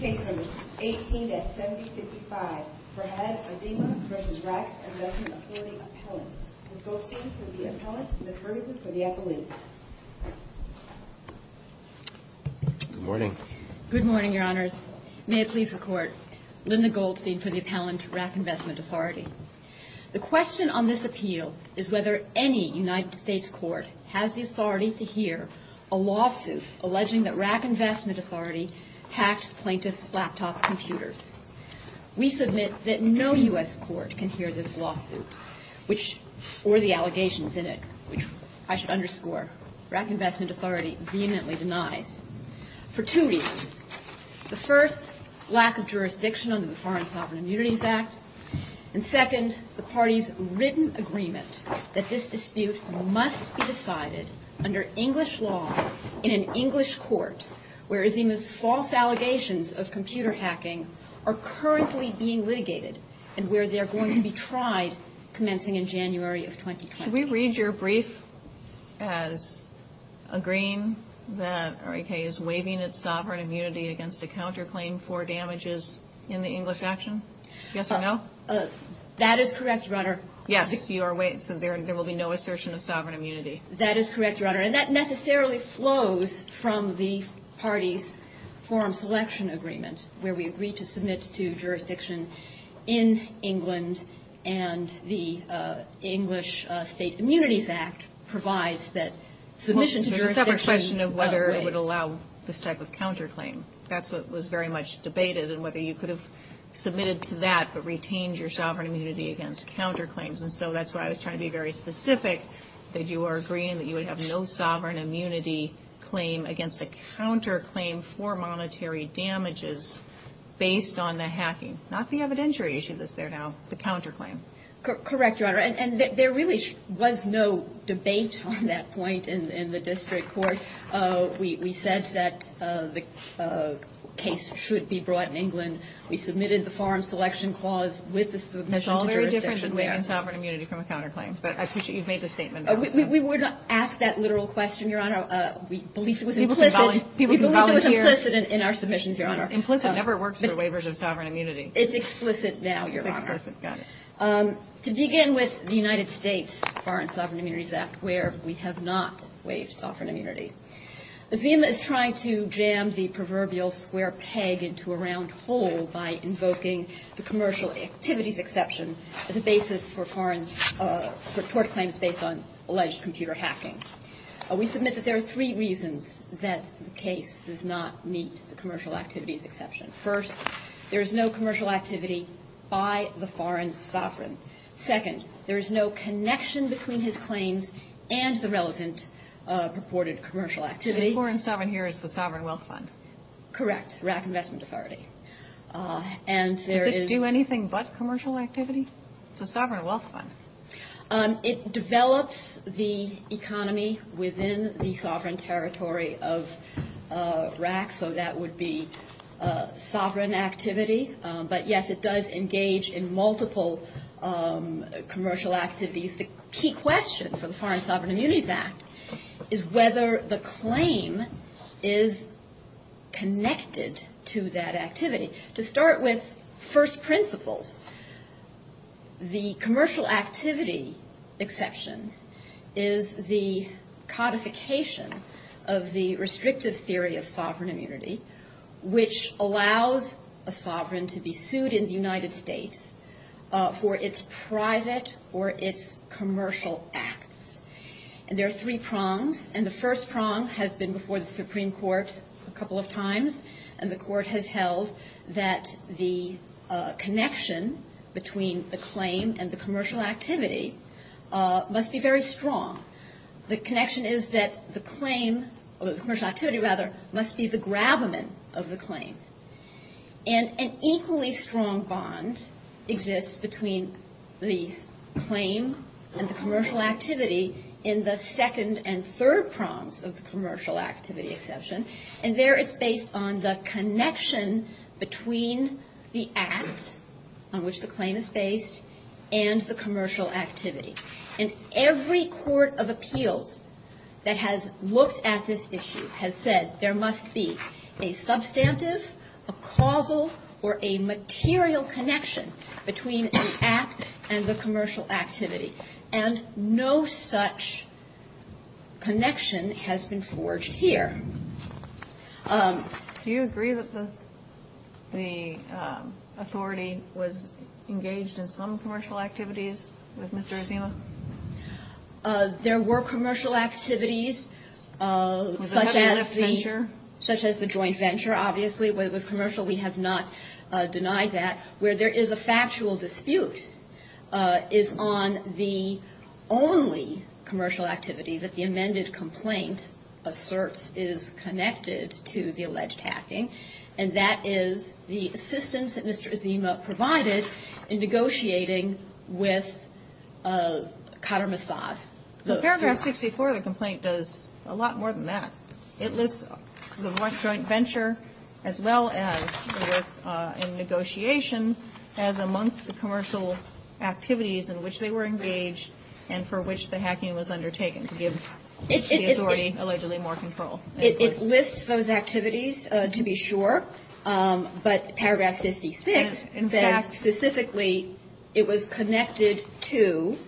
Case number 18-7055. Farhad Azima v. Rak Investment Authority Appellant. Ms. Goldstein for the appellant, Ms. Ferguson for the appellant. Good morning. Good morning, Your Honors. May it please the Court. Linda Goldstein for the appellant, Rak Investment Authority. The question on this appeal is whether any United States court has the authority to hear a lawsuit alleging that Rak Investment Authority hacked plaintiff's laptop computers. We submit that no U.S. court can hear this lawsuit, or the allegations in it, which I should underscore, Rak Investment Authority vehemently denies, for two reasons. The first, lack of jurisdiction under the Foreign Sovereign Immunities Act. And second, the party's written agreement that this dispute must be decided under English law in an English court, where Azima's false allegations of computer hacking are currently being litigated and where they're going to be tried commencing in January of 2020. Could we read your brief as agreeing that Rak is waiving its sovereign immunity against a counterclaim for damages in the English action? Yes or no? That is correct, Your Honor. Yes, you are waiving, so there will be no assertion of sovereign immunity. That is correct, Your Honor. And that necessarily flows from the party's forum selection agreement, where we agreed to submit to jurisdiction in England, and the English State Immunities Act provides that submission to jurisdiction. There's a separate question of whether it would allow this type of counterclaim. That's what was very much debated, and whether you could have submitted to that but retained your sovereign immunity against counterclaims. And so that's why I was trying to be very specific that you are agreeing that you would have no sovereign immunity claim against a counterclaim for monetary damages based on the hacking, not the evidentiary issue that's there now, the counterclaim. Correct, Your Honor. And there really was no debate on that point in the district court. We said that the case should be brought in England. We submitted the forum selection clause with the submission to jurisdiction. It's all very different than waiving sovereign immunity from a counterclaim, but I appreciate you've made the statement. We would not ask that literal question, Your Honor. We believe it was implicit. People can volunteer. We believe it was implicit in our submissions, Your Honor. Implicit never works for waivers of sovereign immunity. It's explicit now, Your Honor. It's explicit. Got it. To begin with, the United States Foreign Sovereign Immunities Act, where we have not waived sovereign immunity. Zima is trying to jam the proverbial square peg into a round hole by invoking the commercial activities exception as a basis for foreign claims based on alleged computer hacking. We submit that there are three reasons that the case does not meet the commercial activities exception. First, there is no commercial activity by the foreign sovereign. Second, there is no connection between his claims and the relevant purported commercial activity. The foreign sovereign here is the Sovereign Wealth Fund. Correct, RAC Investment Authority. Does it do anything but commercial activity? It's a Sovereign Wealth Fund. It develops the economy within the sovereign territory of RAC, so that would be sovereign activity. But, yes, it does engage in multiple commercial activities. The key question for the Foreign Sovereign Immunities Act is whether the claim is connected to that activity. To start with first principles, the commercial activity exception is the codification of the restrictive theory of sovereign immunity, which allows a sovereign to be sued in the United States for its private or its commercial acts. And there are three prongs. And the first prong has been before the Supreme Court a couple of times, and the Court has held that the connection between the claim and the commercial activity must be very strong. The connection is that the claim, or the commercial activity, rather, must be the grabber of the claim. And an equally strong bond exists between the claim and the commercial activity in the second and third prongs of the commercial activity exception. And there it's based on the connection between the act on which the claim is based and the commercial activity. And every court of appeals that has looked at this issue has said there must be a substantive, a causal, or a material connection between the act and the commercial activity. And no such connection has been forged here. Do you agree that the authority was engaged in some commercial activities with Mr. Azima? There were commercial activities such as the joint venture, obviously. It was commercial. We have not denied that. Where there is a factual dispute is on the only commercial activity that the amended complaint asserts is connected to the alleged hacking. And that is the assistance that Mr. Azima provided in negotiating with Qatar Mossad. But paragraph 64 of the complaint does a lot more than that. It lists the joint venture as well as the negotiation as amongst the commercial activities in which they were engaged and for which the hacking was undertaken to give the authority allegedly more control. It lists those activities to be sure. But paragraph 56 says specifically it was connected to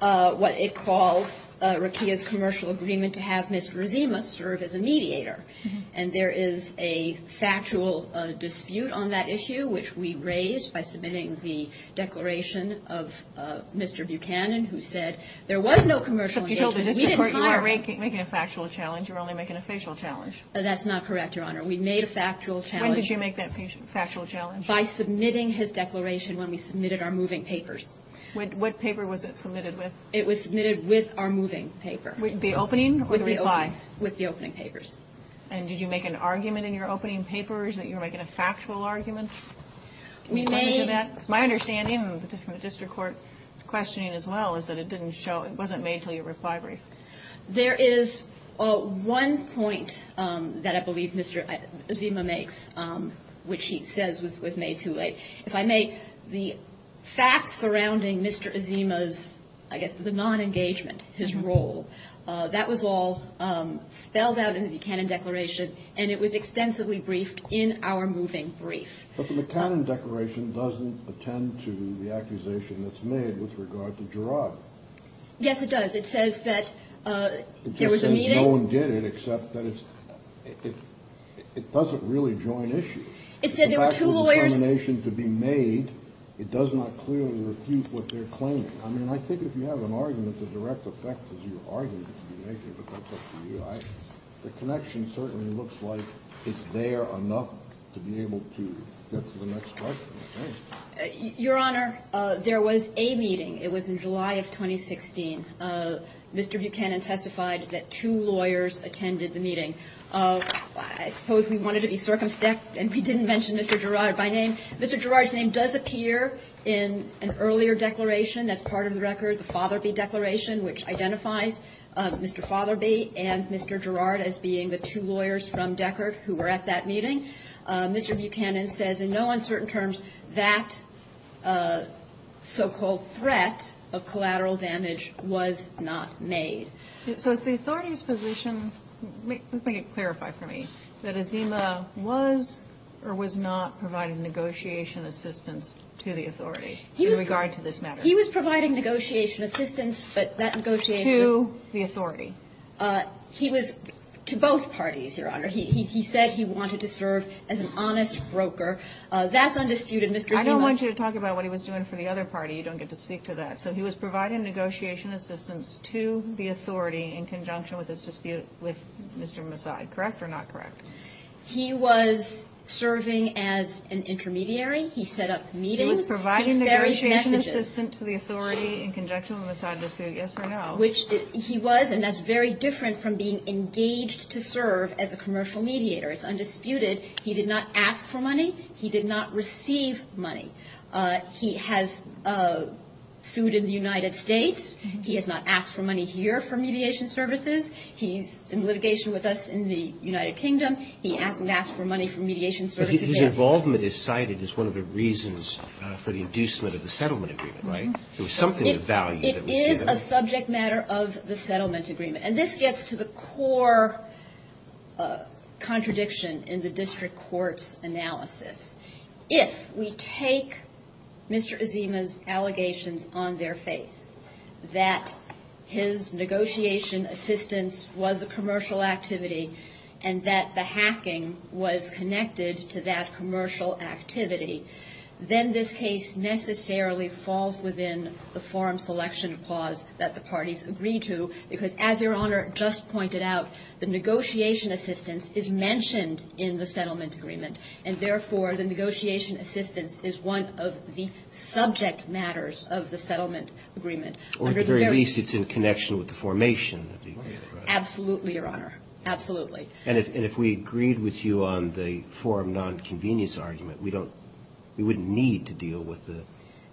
what it calls Rekia's commercial agreement to have Mr. Azima serve as a mediator. And there is a factual dispute on that issue, which we raised by submitting the declaration of Mr. Buchanan, who said there was no commercial engagement. So if you told the district court you weren't making a factual challenge, you were only making a facial challenge. That's not correct, Your Honor. We made a factual challenge. When did you make that factual challenge? By submitting his declaration when we submitted our moving papers. What paper was it submitted with? It was submitted with our moving papers. With the opening or the reply? With the opening papers. And did you make an argument in your opening papers that you were making a factual argument? We made... Because my understanding from the district court's questioning as well is that it didn't show, it wasn't made until your reply brief. There is one point that I believe Mr. Azima makes, which he says was made too late. If I may, the facts surrounding Mr. Azima's, I guess, the nonengagement, his role, that was all spelled out in the Buchanan declaration, and it was extensively briefed in our moving brief. But the Buchanan declaration doesn't attend to the accusation that's made with regard to Gerard. Yes, it does. It says that there was a meeting. It just says no one did it except that it's, it doesn't really join issues. It said there were two lawyers. The factual determination to be made, it does not clearly refute what they're claiming. I mean, I think if you have an argument, the direct effect is your argument to be made, but that's up to you. The connection certainly looks like it's there enough to be able to get to the next question, I think. Your Honor, there was a meeting. It was in July of 2016. Mr. Buchanan testified that two lawyers attended the meeting. I suppose we wanted to be circumspect and we didn't mention Mr. Gerard. By name, Mr. Gerard's name does appear in an earlier declaration that's part of the record, the Fotherby Declaration, which identifies Mr. Fotherby and Mr. Gerard as being the two lawyers from Deckert who were at that meeting. Mr. Buchanan says in no uncertain terms that so-called threat of collateral damage was not made. So is the authority's position, let me clarify for me, that Azima was or was not providing negotiation assistance to the authority in regard to this matter? He was providing negotiation assistance, but that negotiation was to the authority. He was to both parties, Your Honor. He said he wanted to serve as an honest broker. That's undisputed, Mr. Azima. I don't want you to talk about what he was doing for the other party. You don't get to speak to that. So he was providing negotiation assistance to the authority in conjunction with this dispute with Mr. Massad. Correct or not correct? He was serving as an intermediary. He set up meetings. He was providing negotiation assistance to the authority in conjunction with the Massad dispute, yes or no? Which he was, and that's very different from being engaged to serve as a commercial mediator. It's undisputed. He did not ask for money. He did not receive money. He has sued in the United States. He has not asked for money here from Mediation Services. He's in litigation with us in the United Kingdom. He asked and asked for money from Mediation Services. But his involvement is cited as one of the reasons for the inducement of the settlement agreement, right? It was something of value that was given. It is a subject matter of the settlement agreement. And this gets to the core contradiction in the district court's analysis. If we take Mr. Azima's allegations on their face, that his negotiation assistance was a commercial activity, and that the hacking was connected to that commercial activity, then this case necessarily falls within the forum selection clause that the parties agree to, because as Your Honor just pointed out, the negotiation assistance is mentioned in the settlement agreement, and therefore the negotiation assistance is one of the subject matters of the settlement agreement. Or at the very least, it's in connection with the formation of the agreement, right? Absolutely, Your Honor. Absolutely. And if we agreed with you on the forum nonconvenience argument, we wouldn't need to deal with the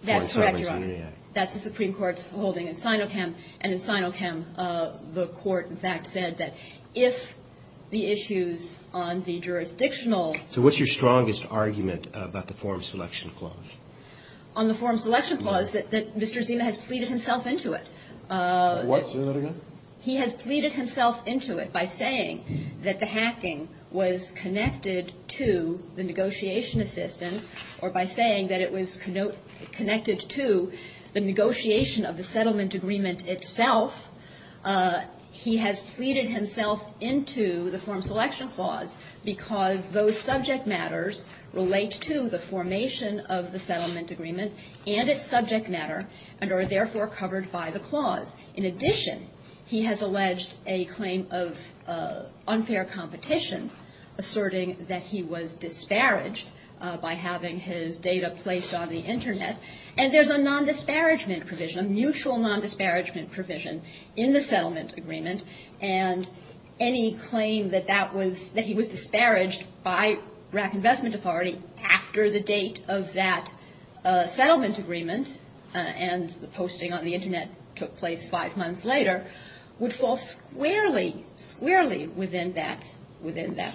forum settlement agreement. That's correct, Your Honor. That's the Supreme Court's holding in Sinochem. And in Sinochem, the court, in fact, said that if the issues on the jurisdictional – So what's your strongest argument about the forum selection clause? On the forum selection clause, that Mr. Azima has pleaded himself into it. Say that again? He has pleaded himself into it by saying that the hacking was connected to the negotiation assistance or by saying that it was connected to the negotiation of the settlement agreement itself. He has pleaded himself into the forum selection clause because those subject matters relate to the formation of the settlement agreement and its subject matter and are therefore covered by the clause. In addition, he has alleged a claim of unfair competition, asserting that he was disparaged by having his data placed on the Internet. And there's a non-disparagement provision, a mutual non-disparagement provision, in the settlement agreement. And any claim that he was disparaged by RAC Investment Authority after the date of that settlement agreement and the posting on the Internet took place five months later would fall squarely, squarely within that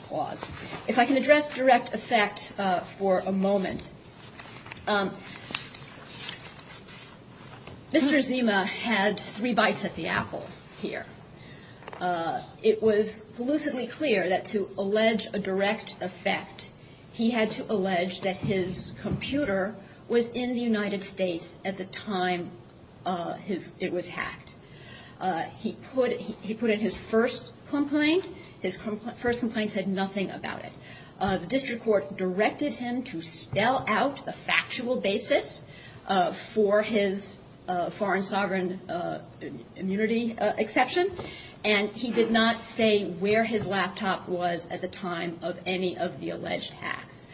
clause. If I can address direct effect for a moment. Mr. Azima had three bites at the apple here. It was lucidly clear that to allege a direct effect, he had to allege that his computer was in the United States at the time it was hacked. He put in his first complaint. His first complaint said nothing about it. The district court directed him to spell out the factual basis for his foreign sovereign immunity exception. And he did not say where his laptop was at the time of any of the alleged hacks.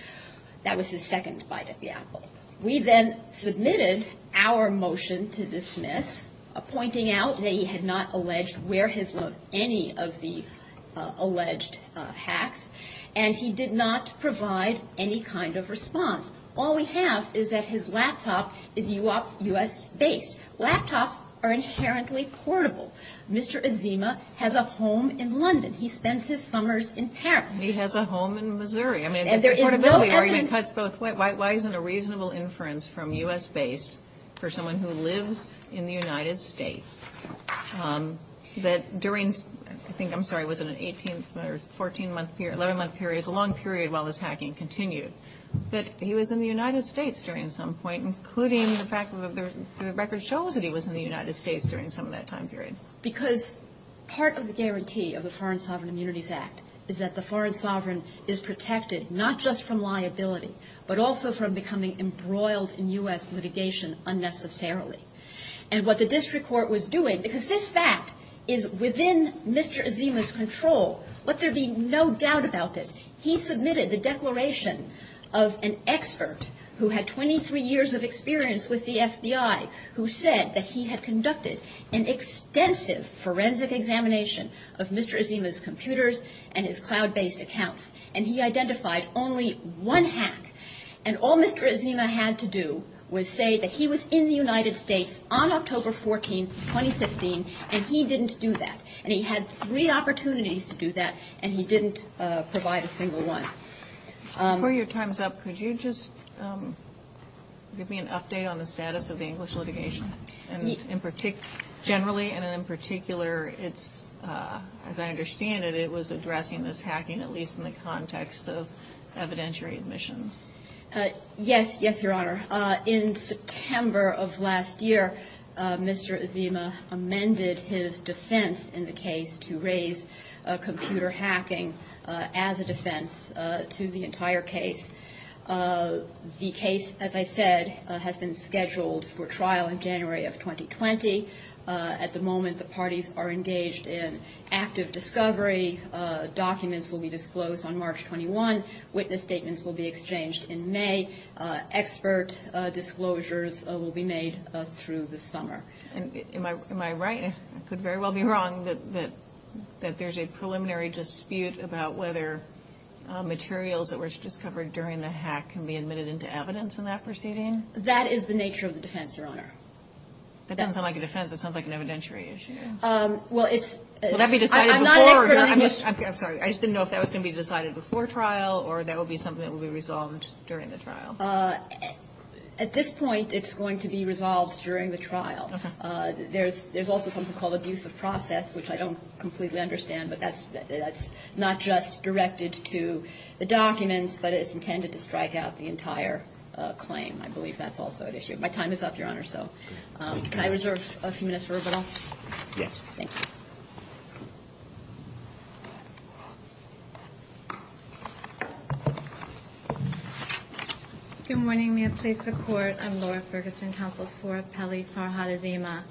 That was his second bite at the apple. We then submitted our motion to dismiss, pointing out that he had not alleged where his any of the alleged hacks. And he did not provide any kind of response. All we have is that his laptop is U.S. based. Laptops are inherently portable. Mr. Azima has a home in London. He spends his summers in Paris. He has a home in Missouri. I mean, the portability argument cuts both ways. Why isn't a reasonable inference from U.S. base for someone who lives in the United States that during, I think, I'm sorry, was it an 18 or 14-month period, 11-month period, it's a long period while this hacking continued, that he was in the United States during some point, including the fact that the record shows that he was in the United States during some of that time period. Because part of the guarantee of the Foreign Sovereign Immunities Act is that the foreign sovereign is protected, not just from liability, but also from becoming embroiled in U.S. litigation unnecessarily. And what the district court was doing, because this fact is within Mr. Azima's control, let there be no doubt about this, he submitted the declaration of an expert who had 23 years of experience with the FBI who said that he had conducted an extensive forensic examination of Mr. Azima's computers and his cloud-based accounts, and he identified only one hack. And all Mr. Azima had to do was say that he was in the United States on October 14, 2015, and he didn't do that. And he had three opportunities to do that, and he didn't provide a single one. Before your time's up, could you just give me an update on the status of the English litigation? Generally and in particular, as I understand it, it was addressing this hacking, at least in the context of evidentiary admissions. Yes, yes, Your Honor. In September of last year, Mr. Azima amended his defense in the case to raise computer hacking as a defense to the entire case. The case, as I said, has been scheduled for trial in January of 2020. At the moment, the parties are engaged in active discovery. Documents will be disclosed on March 21. Witness statements will be exchanged in May. Expert disclosures will be made through the summer. Am I right? I could very well be wrong that there's a preliminary dispute about whether materials that were discovered during the hack can be admitted into evidence in that proceeding? That is the nature of the defense, Your Honor. That doesn't sound like a defense. That sounds like an evidentiary issue. Well, it's – Will that be decided before – I'm not an expert on English – I'm sorry. I just didn't know if that was going to be decided before trial or that will be something that will be resolved during the trial? At this point, it's going to be resolved during the trial. There's also something called abuse of process, which I don't completely understand, but that's not just directed to the documents, but it's intended to strike out the entire claim. I believe that's also at issue. My time is up, Your Honor, so can I reserve a few minutes for rebuttal? Yes. Thank you. Good morning. May it please the Court. I'm Laura Ferguson, Counsel for Peli Farhad Azima.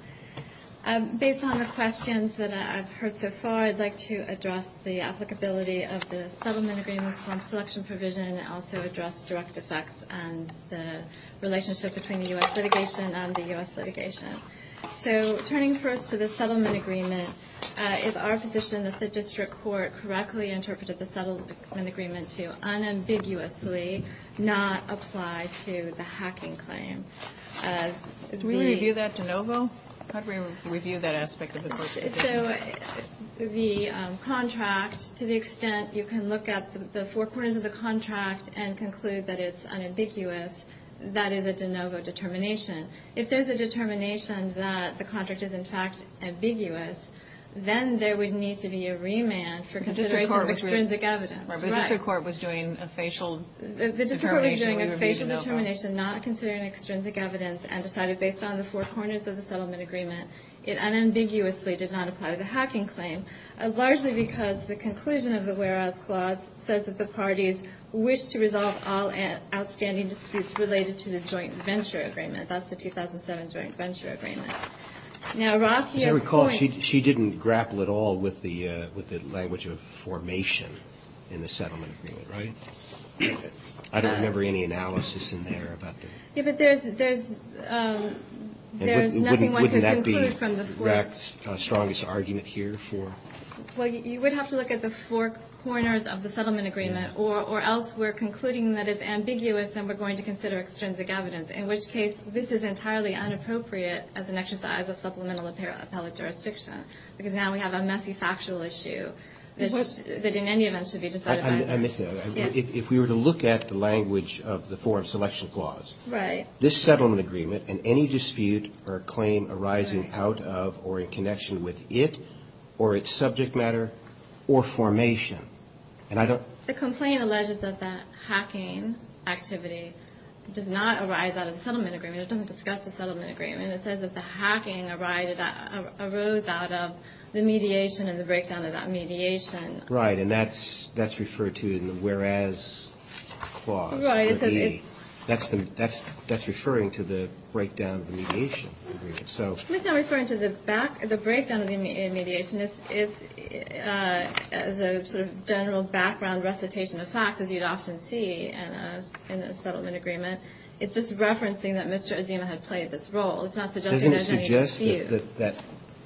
Based on the questions that I've heard so far, I'd like to address the applicability of the settlement agreements from selection provision and also address direct effects and the relationship between the U.S. litigation and the U.S. litigation. So turning first to the settlement agreement, is our position that the district court correctly interpreted the settlement agreement to unambiguously not apply to the hacking claim? Did we review that de novo? How did we review that aspect of the decision? So the contract, to the extent you can look at the four corners of the contract and conclude that it's unambiguous, that is a de novo determination. If there's a determination that the contract is, in fact, ambiguous, then there would need to be a remand for consideration of extrinsic evidence. Right, but the district court was doing a facial determination. The district court was doing a facial determination, not considering extrinsic evidence, and decided based on the four corners of the settlement agreement it unambiguously did not apply to the hacking claim, largely because the conclusion of the whereas clause says that the parties wished to resolve all outstanding disputes related to the joint venture agreement. That's the 2007 joint venture agreement. Now, Roth, you have points. As I recall, she didn't grapple at all with the language of formation in the settlement agreement, right? I don't remember any analysis in there about the... Yeah, but there's nothing one could conclude from the four... Wouldn't that be REC's strongest argument here for... Well, you would have to look at the four corners of the settlement agreement or else we're concluding that it's ambiguous and we're going to consider extrinsic evidence, in which case this is entirely inappropriate as an exercise of supplemental appellate jurisdiction because now we have a messy factual issue that in any event should be decided by... I miss it. If we were to look at the language of the forum selection clause, this settlement agreement and any dispute or claim arising out of or in connection with it or its subject matter or formation, and I don't... The complaint alleges that the hacking activity does not arise out of the settlement agreement. It doesn't discuss the settlement agreement. It says that the hacking arose out of the mediation and the breakdown of that mediation. Right, and that's referred to in the whereas clause. Right. That's referring to the breakdown of the mediation. It's not referring to the breakdown of the mediation. It's a sort of general background recitation of facts, as you'd often see in a settlement agreement. It's just referencing that Mr. Azima had played this role. It's not suggesting there's any dispute. Doesn't it suggest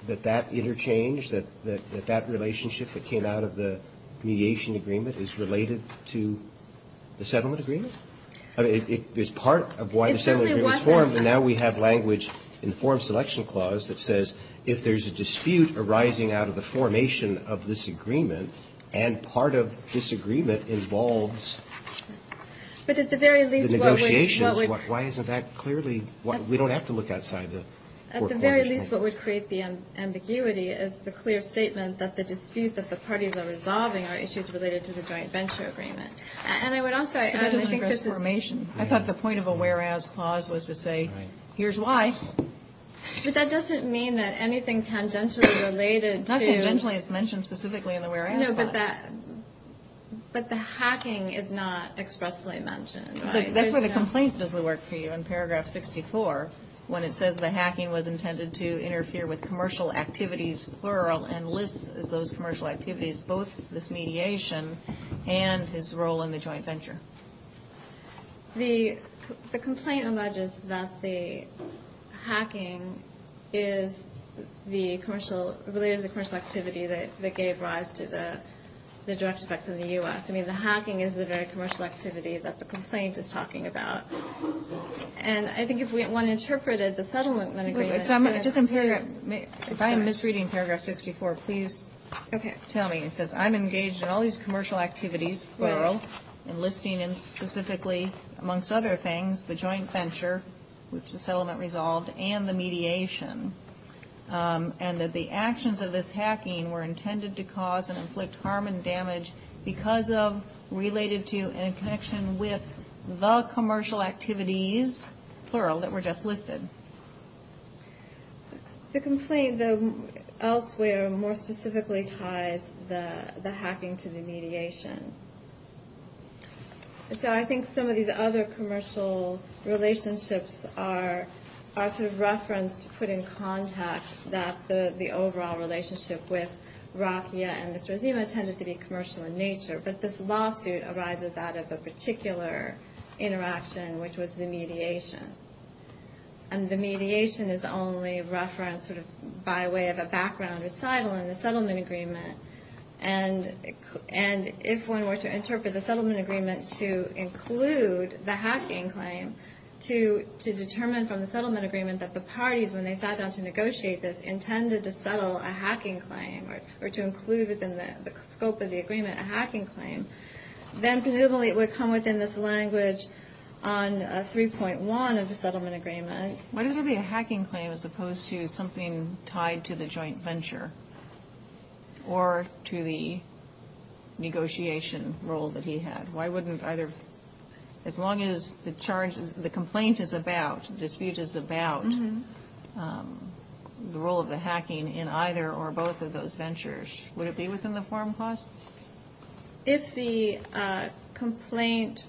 that that interchange, that that relationship that came out of the mediation agreement is related to the settlement agreement? I mean, it's part of why the settlement agreement was formed, but now we have language in the forum selection clause that says if there's a dispute arising out of the formation of this agreement and part of this agreement involves the negotiations, why isn't that clearly... We don't have to look outside the court formation. At the very least, what would create the ambiguity is the clear statement that the dispute that the parties are resolving are issues related to the joint venture agreement. And I would also add, I think this is... I thought the point of a whereas clause was to say, here's why. But that doesn't mean that anything tangentially related to... Not tangentially, it's mentioned specifically in the whereas clause. No, but the hacking is not expressly mentioned, right? That's why the complaint doesn't work for you in paragraph 64 when it says the hacking was intended to interfere with commercial activities, plural, and lists those commercial activities, both this mediation and his role in the joint venture. The complaint alleges that the hacking is the commercial... related to the commercial activity that gave rise to the direct effects in the U.S. I mean, the hacking is the very commercial activity that the complaint is talking about. And I think if one interpreted the settlement agreement... If I'm misreading paragraph 64, please tell me. It says, I'm engaged in all these commercial activities, plural, and listing specifically, amongst other things, the joint venture, which the settlement resolved, and the mediation. And that the actions of this hacking were intended to cause and inflict harm and damage because of, related to, and in connection with the commercial activities, plural, that were just listed. The complaint, elsewhere, more specifically ties the hacking to the mediation. So I think some of these other commercial relationships are sort of referenced, put in context, that the overall relationship with Rakhia and Mr. Azima tended to be commercial in nature, but this lawsuit arises out of a particular interaction, which was the mediation. And the mediation is only referenced by way of a background recital in the settlement agreement. And if one were to interpret the settlement agreement to include the hacking claim, to determine from the settlement agreement that the parties, when they sat down to negotiate this, intended to settle a hacking claim, or to include within the scope of the agreement a hacking claim, then presumably it would come within this language on 3.1 of the settlement agreement. Why does it have to be a hacking claim as opposed to something tied to the joint venture or to the negotiation role that he had? Why wouldn't either, as long as the charge, the complaint is about, the dispute is about the role of the hacking in either or both of those ventures, would it be within the forum clause? If the complaint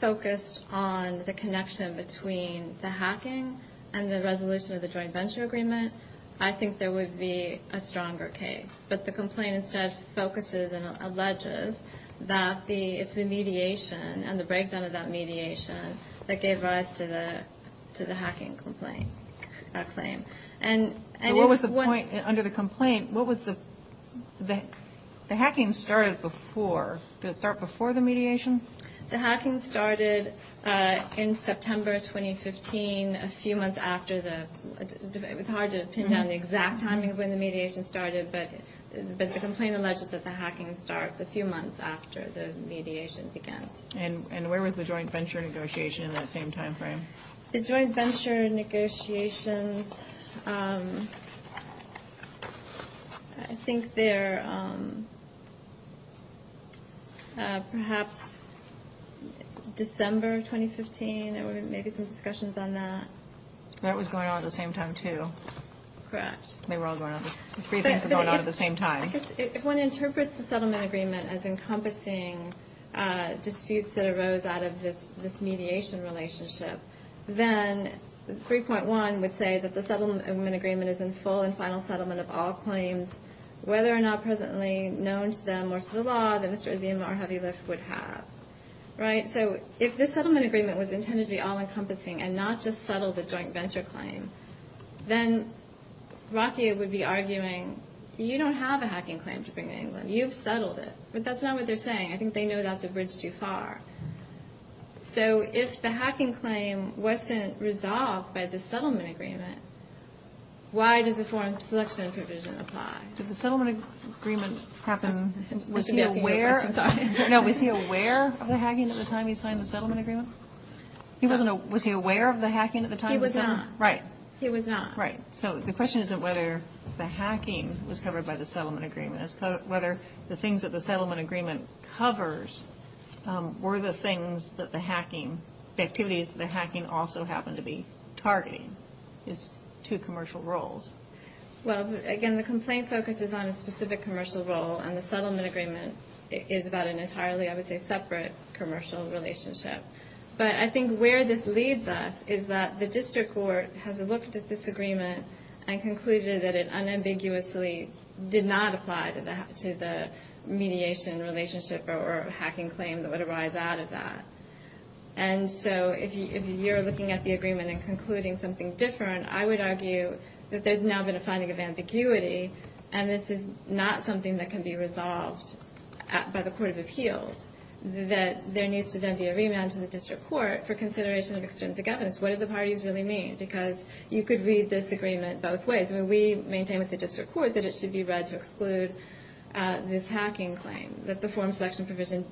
focused on the connection between the hacking and the resolution of the joint venture agreement, I think there would be a stronger case. But the complaint instead focuses and alleges that it's the mediation and the breakdown of that mediation that gave rise to the hacking complaint claim. What was the point under the complaint, what was the, the hacking started before, did it start before the mediation? The hacking started in September 2015, a few months after the, it was hard to pin down the exact timing of when the mediation started, but the complaint alleges that the hacking starts a few months after the mediation began. And where was the joint venture negotiation in that same time frame? The joint venture negotiations, I think they're perhaps December 2015, there were maybe some discussions on that. That was going on at the same time too. Correct. They were all going on, the briefings were going on at the same time. If one interprets the settlement agreement as encompassing disputes that arose out of this mediation relationship, then 3.1 would say that the settlement agreement is in full and final settlement of all claims, whether or not presently known to them or to the law that Mr. Azim or Heavy Lift would have. Right? So if this settlement agreement was intended to be all-encompassing and not just settle the joint venture claim, then Rocky would be arguing you don't have a hacking claim to bring to England. You've settled it. But that's not what they're saying. I think they know that's a bridge too far. So if the hacking claim wasn't resolved by the settlement agreement, why does a foreign selection provision apply? Did the settlement agreement happen, was he aware? No, was he aware of the hacking at the time he signed the settlement agreement? Was he aware of the hacking at the time? He was not. Right. He was not. Right. So the question isn't whether the hacking was covered by the settlement agreement. It's whether the things that the settlement agreement covers were the things that the hacking, the activities that the hacking also happened to be targeting. It's two commercial roles. Well, again, the complaint focuses on a specific commercial role, and the settlement agreement is about an entirely, I would say, separate commercial relationship. But I think where this leads us is that the district court has looked at this agreement and concluded that it unambiguously did not apply to the mediation relationship or hacking claim that would arise out of that. And so if you're looking at the agreement and concluding something different, I would argue that there's now been a finding of ambiguity, and this is not something that can be resolved by the court of appeals, that there needs to then be a remand to the district court for consideration of extrinsic evidence. What do the parties really mean? Because you could read this agreement both ways. I mean, we maintain with the district court that it should be read to exclude this hacking claim, that the form selection provision,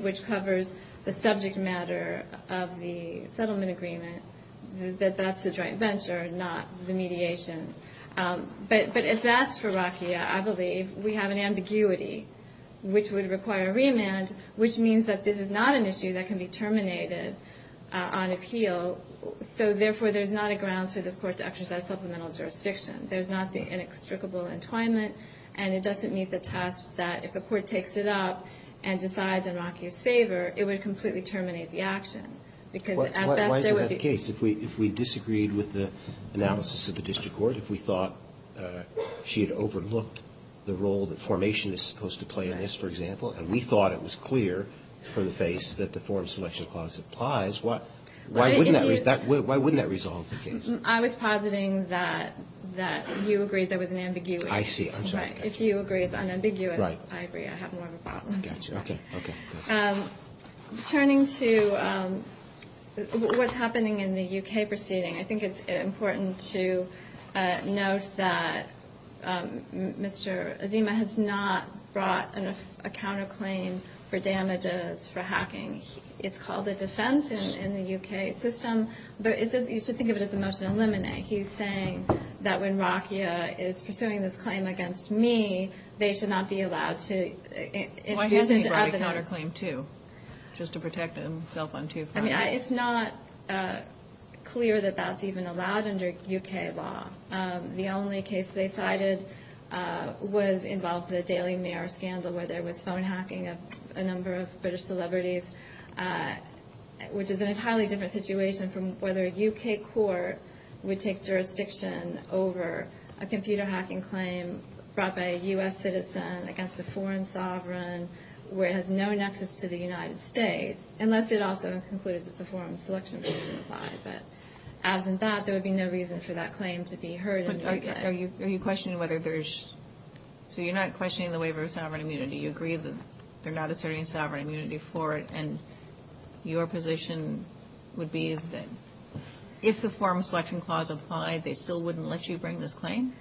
which covers the subject matter of the settlement agreement, that that's the joint venture, not the mediation. But if that's for Rakhia, I believe we have an ambiguity, which would require a remand, which means that this is not an issue that can be terminated on appeal. So therefore, there's not a grounds for this court to exercise supplemental jurisdiction. There's not the inextricable entwinement, and it doesn't meet the test that if the court takes it up and decides in Rakhia's favor, it would completely terminate the action, because at best there would be ---- Why is that not the case? If we disagreed with the analysis of the district court, if we thought she had overlooked the role that formation is supposed to play in this, for example, and we thought it was clear from the face that the form selection clause applies, why wouldn't that resolve the case? I was positing that you agreed there was an ambiguity. I see. I'm sorry. If you agree it's unambiguous, I agree I have more of a problem. I got you. Okay. Okay. Turning to what's happening in the U.K. proceeding, I think it's important to note that Mr. Azima has not brought a counterclaim for damages for hacking. It's called a defense in the U.K. system, but you should think of it as a motion to eliminate. He's saying that when Rakhia is pursuing this claim against me, they should not be allowed to introduce into evidence. Why hasn't he brought a counterclaim, too, just to protect himself on two fronts? I mean, it's not clear that that's even allowed under U.K. law. The only case they cited involved the Daily Mail scandal where there was phone hacking of a number of British celebrities, which is an entirely different situation from whether a U.K. court would take jurisdiction over a computer hacking claim brought by a U.S. citizen against a foreign sovereign where it has no nexus to the United States, unless it also concluded that the form selection clause didn't apply. But as in that, there would be no reason for that claim to be heard in the U.K. Are you questioning whether there's – so you're not questioning the waiver of sovereign immunity. You agree that they're not asserting sovereign immunity for it, and your position would be that if the form selection clause applied, they still wouldn't let you bring this claim?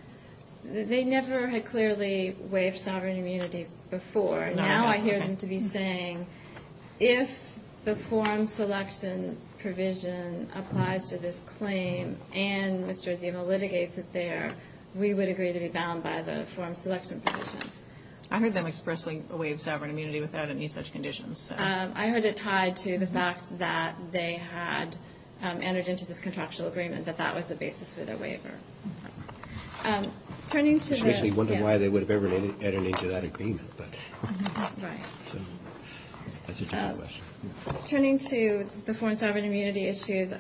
They never had clearly waived sovereign immunity before. Now I hear them to be saying if the form selection provision applies to this claim and Mr. Azima litigates it there, we would agree to be bound by the form selection provision. I heard them expressly waive sovereign immunity without any such conditions. I heard it tied to the fact that they had entered into this contractual agreement, that that was the basis for their waiver. Turning to the – I was actually wondering why they would have ever entered into that agreement. Right. That's a different question. Turning to the foreign sovereign immunity issues,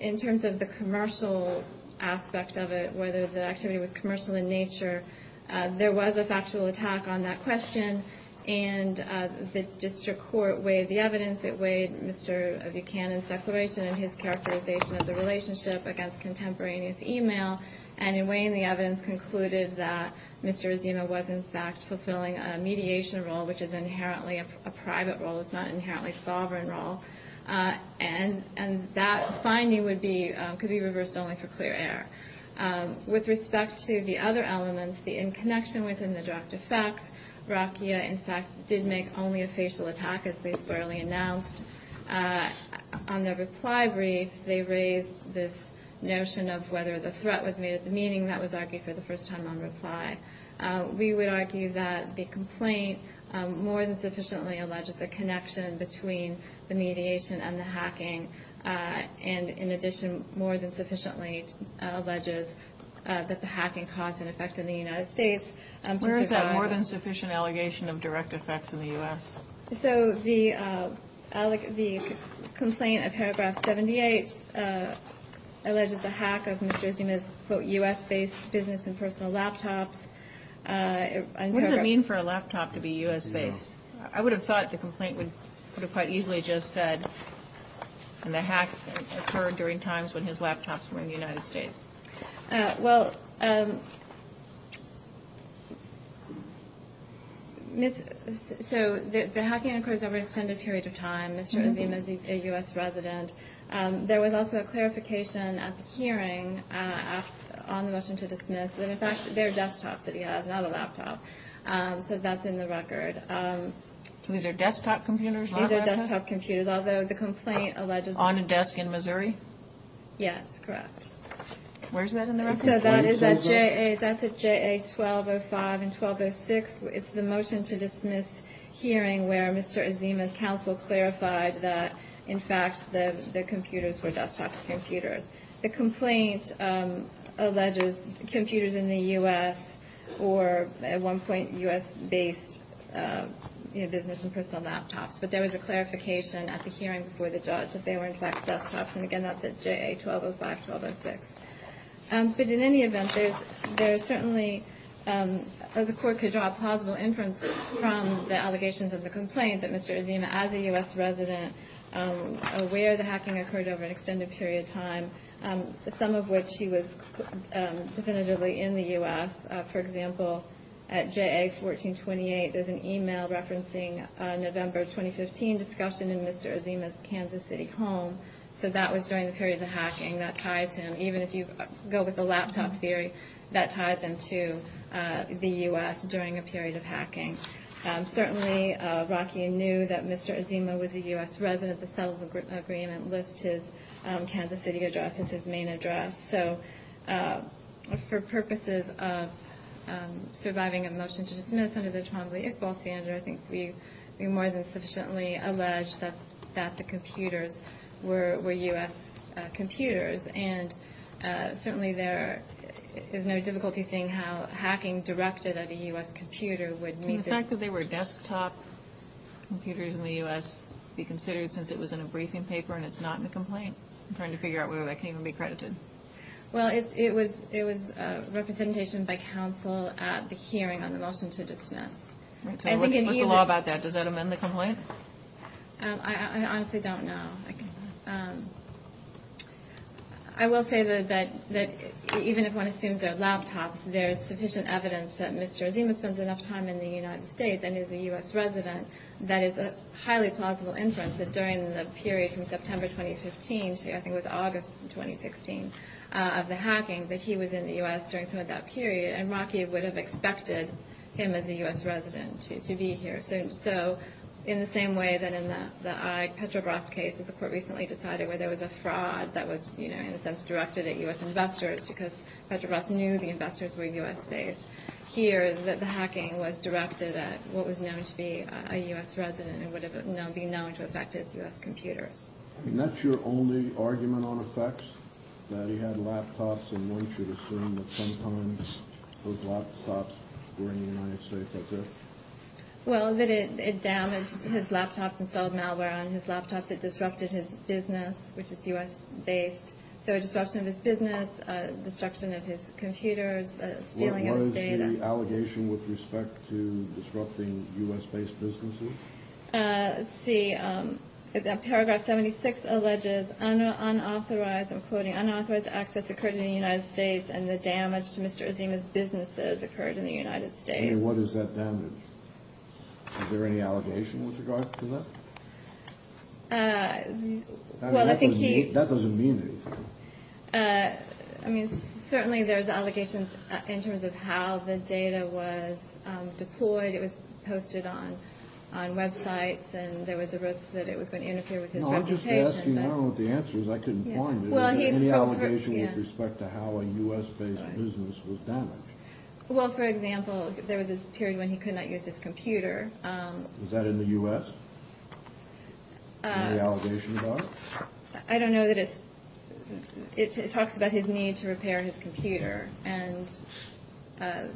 in terms of the commercial aspect of it, whether the activity was commercial in nature, there was a factual attack on that question, and the district court weighed the evidence. It weighed Mr. Buchanan's declaration and his characterization of the relationship against contemporaneous email, and in weighing the evidence concluded that Mr. Azima was, in fact, fulfilling a mediation role, which is inherently a private role. It's not an inherently sovereign role. And that finding would be – could be reversed only for clear air. With respect to the other elements, the in-connection within the direct effects, Rakhia, in fact, did make only a facial attack, as they squarely announced. On their reply brief, they raised this notion of whether the threat was made at the meeting. That was argued for the first time on reply. We would argue that the complaint more than sufficiently alleges a connection between the mediation and the hacking, and in addition more than sufficiently alleges that the hacking caused an effect in the United States. Where is that more than sufficient allegation of direct effects in the U.S.? So the complaint in paragraph 78 alleges a hack of Mr. Azima's, quote, U.S.-based business and personal laptops. What does it mean for a laptop to be U.S.-based? I would have thought the complaint would have quite easily just said, and the hack occurred during times when his laptops were in the United States. Well, so the hacking occurs over an extended period of time. Mr. Azima is a U.S. resident. There was also a clarification at the hearing on the motion to dismiss that, in fact, they're desktops that he has, not a laptop. So that's in the record. So these are desktop computers, not laptops? These are desktop computers, although the complaint alleges that. On a desk in Missouri? Yes, correct. Where is that in the record? So that's at JA 1205 and 1206. It's the motion to dismiss hearing where Mr. Azima's counsel clarified that, in fact, the computers were desktop computers. The complaint alleges computers in the U.S. or, at one point, U.S.-based business and personal laptops. But there was a clarification at the hearing before the judge that they were, in fact, desktops. And, again, that's at JA 1205, 1206. But in any event, there's certainly the court could draw a plausible inference from the allegations of the complaint that Mr. Azima, as a U.S. resident, aware the hacking occurred over an extended period of time, some of which he was definitively in the U.S. For example, at JA 1428, there's an email referencing November 2015 discussion in Mr. Azima's Kansas City home. So that was during the period of the hacking. That ties him, even if you go with the laptop theory, that ties him to the U.S. during a period of hacking. Certainly, Rocky knew that Mr. Azima was a U.S. resident. The settlement agreement lists his Kansas City address as his main address. So for purposes of surviving a motion to dismiss under the Trombley-Iqbal standard, I think we more than sufficiently allege that the computers were U.S. computers. And certainly there is no difficulty seeing how hacking directed at a U.S. computer would meet this. Can the fact that they were desktop computers in the U.S. be considered since it was in a briefing paper and it's not in the complaint? I'm trying to figure out whether that can even be credited. Well, it was representation by counsel at the hearing on the motion to dismiss. What's the law about that? Does that amend the complaint? I honestly don't know. I will say that even if one assumes they're laptops, there is sufficient evidence that Mr. Azima spends enough time in the United States and is a U.S. resident that is a highly plausible inference that during the period from September 2015 to I think it was August 2016 of the hacking, that he was in the U.S. during some of that period, and Rocky would have expected him as a U.S. resident to be here. So in the same way that in the Petrobras case that the court recently decided, where there was a fraud that was in a sense directed at U.S. investors because Petrobras knew the investors were U.S.-based, here the hacking was directed at what was known to be a U.S. resident and would be known to affect as U.S. computers. And that's your only argument on effects, that he had laptops and one should assume that sometimes those laptops were in the United States? That's it? Well, that it damaged his laptops and installed malware on his laptops. It disrupted his business, which is U.S.-based. So a disruption of his business, disruption of his computers, stealing of his data. What is the allegation with respect to disrupting U.S.-based businesses? Let's see. Paragraph 76 alleges unauthorized, I'm quoting, unauthorized access occurred in the United States and the damage to Mr. Azima's businesses occurred in the United States. What is that damage? Is there any allegation with regard to that? That doesn't mean anything. I mean, certainly there's allegations in terms of how the data was deployed. It was posted on websites and there was a risk that it was going to interfere with his reputation. No, I'm just asking, I don't know what the answer is. I couldn't find it. Is there any allegation with respect to how a U.S.-based business was damaged? Well, for example, there was a period when he could not use his computer. Is that in the U.S.? Is there any allegation about it? I don't know that it's – it talks about his need to repair his computer and the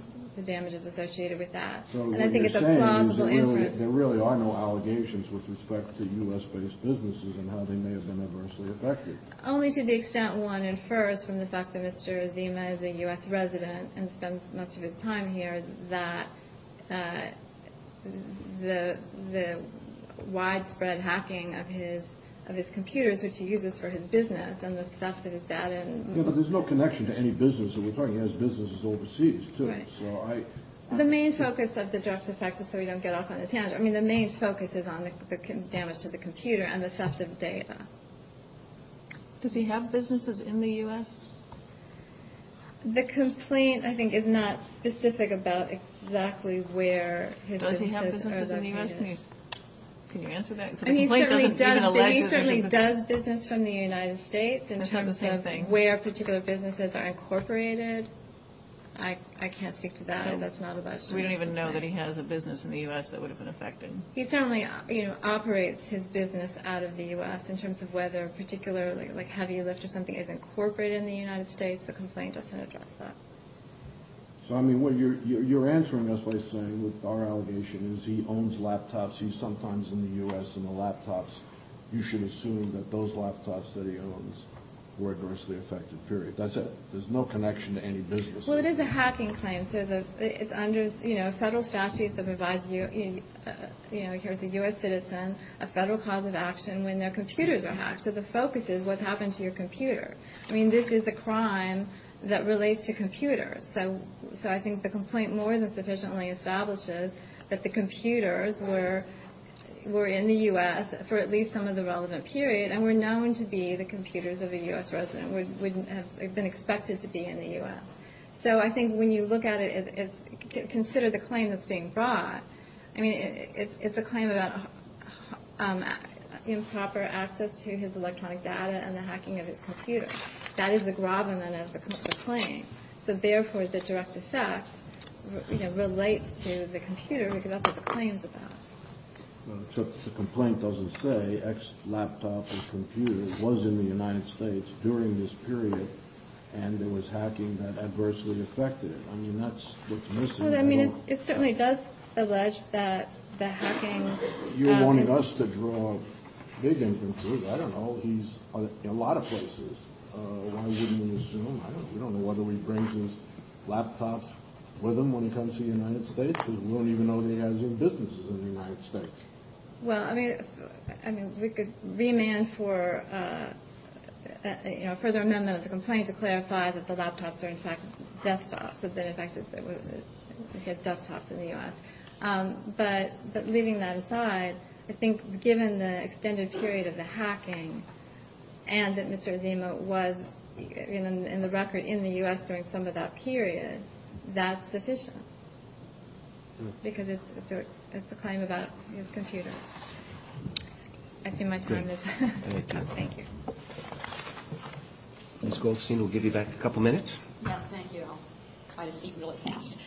damages associated with that. And I think it's a plausible inference. There really are no allegations with respect to U.S.-based businesses and how they may have been adversely affected. Only to the extent one infers from the fact that Mr. Azima is a U.S. resident and spends most of his time here that the widespread hacking of his computers, which he uses for his business and the theft of his data. Yeah, but there's no connection to any business that we're talking about. He has businesses overseas, too. The main focus of the direct effect is so we don't get off on a tangent. I mean, the main focus is on the damage to the computer and the theft of data. Does he have businesses in the U.S.? The complaint, I think, is not specific about exactly where his businesses are located. Does he have businesses in the U.S.? Can you answer that? And he certainly does business from the United States in terms of where particular businesses are incorporated. I can't speak to that. We don't even know that he has a business in the U.S. that would have been affected. He certainly operates his business out of the U.S. in terms of whether a particular heavy lift or something is incorporated in the United States. The complaint doesn't address that. So, I mean, you're answering us by saying our allegation is he owns laptops. He's sometimes in the U.S. in the laptops. You should assume that those laptops that he owns were adversely affected, period. That's it. There's no connection to any business. Well, it is a hacking claim. So it's under a federal statute that provides a U.S. citizen a federal cause of action when their computers are hacked. So the focus is what's happened to your computer. I mean, this is a crime that relates to computers. So I think the complaint more than sufficiently establishes that the computers were in the U.S. for at least some of the relevant period and were known to be the computers of a U.S. resident. They've been expected to be in the U.S. So I think when you look at it, consider the claim that's being brought. I mean, it's a claim about improper access to his electronic data and the hacking of his computer. That is the gravamen of the complaint. So, therefore, the direct effect relates to the computer because that's what the claim is about. The complaint doesn't say X laptop and computer was in the United States during this period and there was hacking that adversely affected it. I mean, that's the commission. It certainly does allege that the hacking. You're wanting us to draw big inferences. I don't know. He's in a lot of places. Why wouldn't we assume? We don't know whether he brings his laptops with him when he comes to the United States because we don't even know that he has any businesses in the United States. Well, I mean, we could remand for a further amendment of the complaint to clarify that the laptops are, in fact, desktops. That they're in fact desktops in the U.S. But leaving that aside, I think given the extended period of the hacking and that Mr. Azeema was in the record in the U.S. during some of that period, that's sufficient because it's a claim about his computers. I see my time is up. Thank you. Ms. Goldstein, we'll give you back a couple minutes. Yes, thank you. I'll try to speak really fast.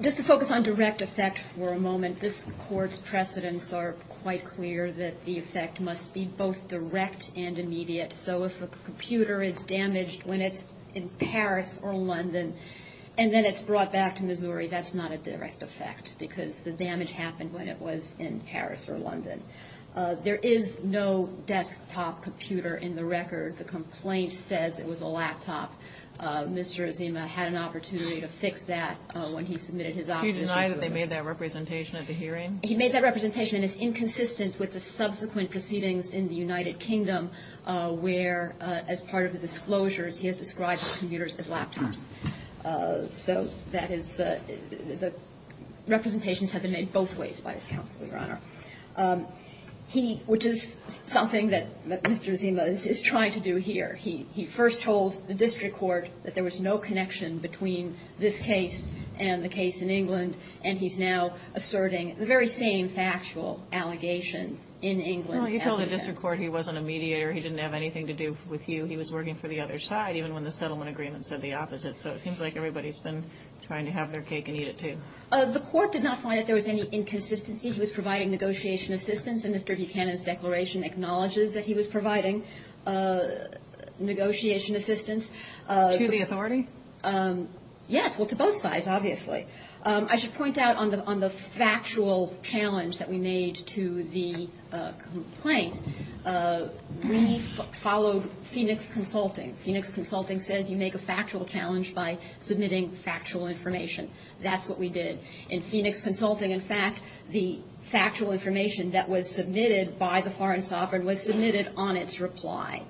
Just to focus on direct effect for a moment, this Court's precedents are quite clear that the effect must be both direct and immediate. So if a computer is damaged when it's in Paris or London and then it's brought back to Missouri, that's not a direct effect because the damage happened when it was in Paris or London. There is no desktop computer in the record. The complaint says it was a laptop. Mr. Azeema had an opportunity to fix that when he submitted his options. Did he deny that they made that representation at the hearing? He made that representation and is inconsistent with the subsequent proceedings in the United Kingdom where as part of the disclosures he has described computers as laptops. So that is the representations have been made both ways by this counsel, Your Honor. He, which is something that Mr. Azeema is trying to do here, he first told the district court that there was no connection between this case and the case in England and he's now asserting the very same factual allegations in England. Well, he told the district court he wasn't a mediator. He didn't have anything to do with you. He was working for the other side even when the settlement agreement said the opposite. So it seems like everybody's been trying to have their cake and eat it too. The court did not find that there was any inconsistency. He was providing negotiation assistance and Mr. Buchanan's declaration acknowledges that he was providing negotiation assistance. To the authority? Yes. Well, to both sides, obviously. I should point out on the factual challenge that we made to the complaint, we followed Phoenix Consulting. Phoenix Consulting says you make a factual challenge by submitting factual information. That's what we did. In Phoenix Consulting, in fact, the factual information that was submitted by the Foreign Sovereign was submitted on its reply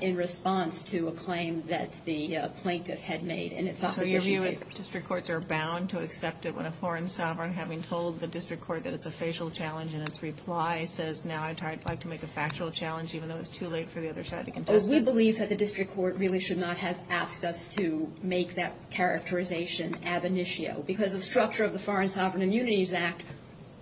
in response to a claim that the plaintiff had made. So your view is district courts are bound to accept it when a foreign sovereign, having told the district court that it's a facial challenge in its reply, says now I'd like to make a factual challenge even though it's too late for the other side to contest it? We believe that the district court really should not have asked us to make that characterization ab initio. Because of the structure of the Foreign Sovereign Immunities Act,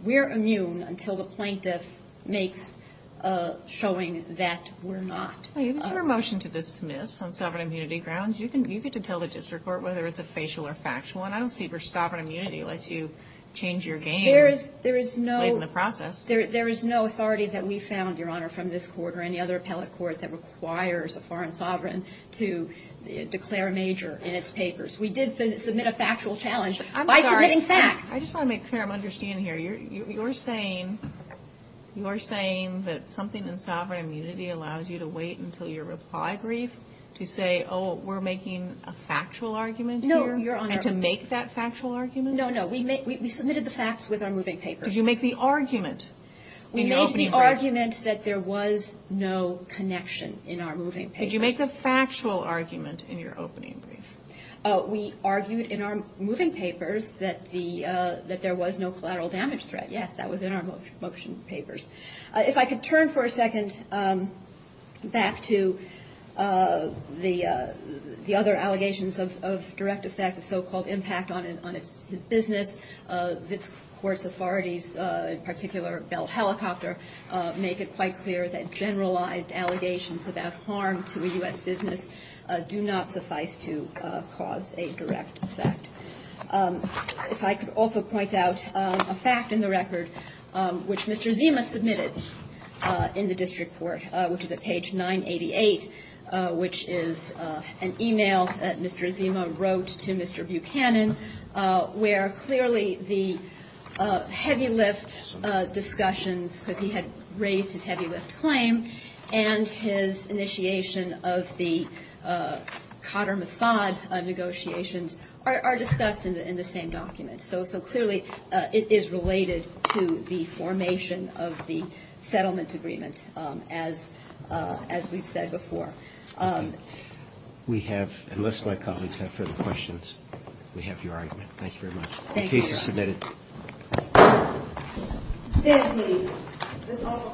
we're immune until the plaintiff makes a showing that we're not. Is there a motion to dismiss on sovereign immunity grounds? You get to tell the district court whether it's a facial or factual. And I don't see where sovereign immunity lets you change your game late in the process. There is no authority that we found, Your Honor, from this court or any other appellate court that requires a foreign sovereign to declare a major in its papers. We did submit a factual challenge by submitting facts. I just want to make sure I'm understanding here. You're saying that something in sovereign immunity allows you to wait until your reply brief to say, oh, we're making a factual argument here? No, Your Honor. And to make that factual argument? No, no. We submitted the facts with our moving papers. Did you make the argument in your opening brief? We made the argument that there was no connection in our moving papers. Did you make the factual argument in your opening brief? We argued in our moving papers that there was no collateral damage threat. Yes, that was in our motion papers. If I could turn for a second back to the other allegations of direct effect, the so-called impact on his business. This court's authorities, in particular Bell Helicopter, make it quite clear that generalized allegations about harm to a U.S. business do not suffice to cause a direct effect. If I could also point out a fact in the record, which Mr. Zima submitted in the district court, which is at page 988, which is an e-mail that Mr. Zima wrote to Mr. Buchanan, where clearly the heavy lift discussions, because he had raised his heavy lift claim, and his initiation of the Qatar-Mossad negotiations are discussed in the same document. So clearly it is related to the formation of the settlement agreement, as we've said before. We have, unless my colleagues have further questions, we have your argument. Thank you very much. The case is submitted.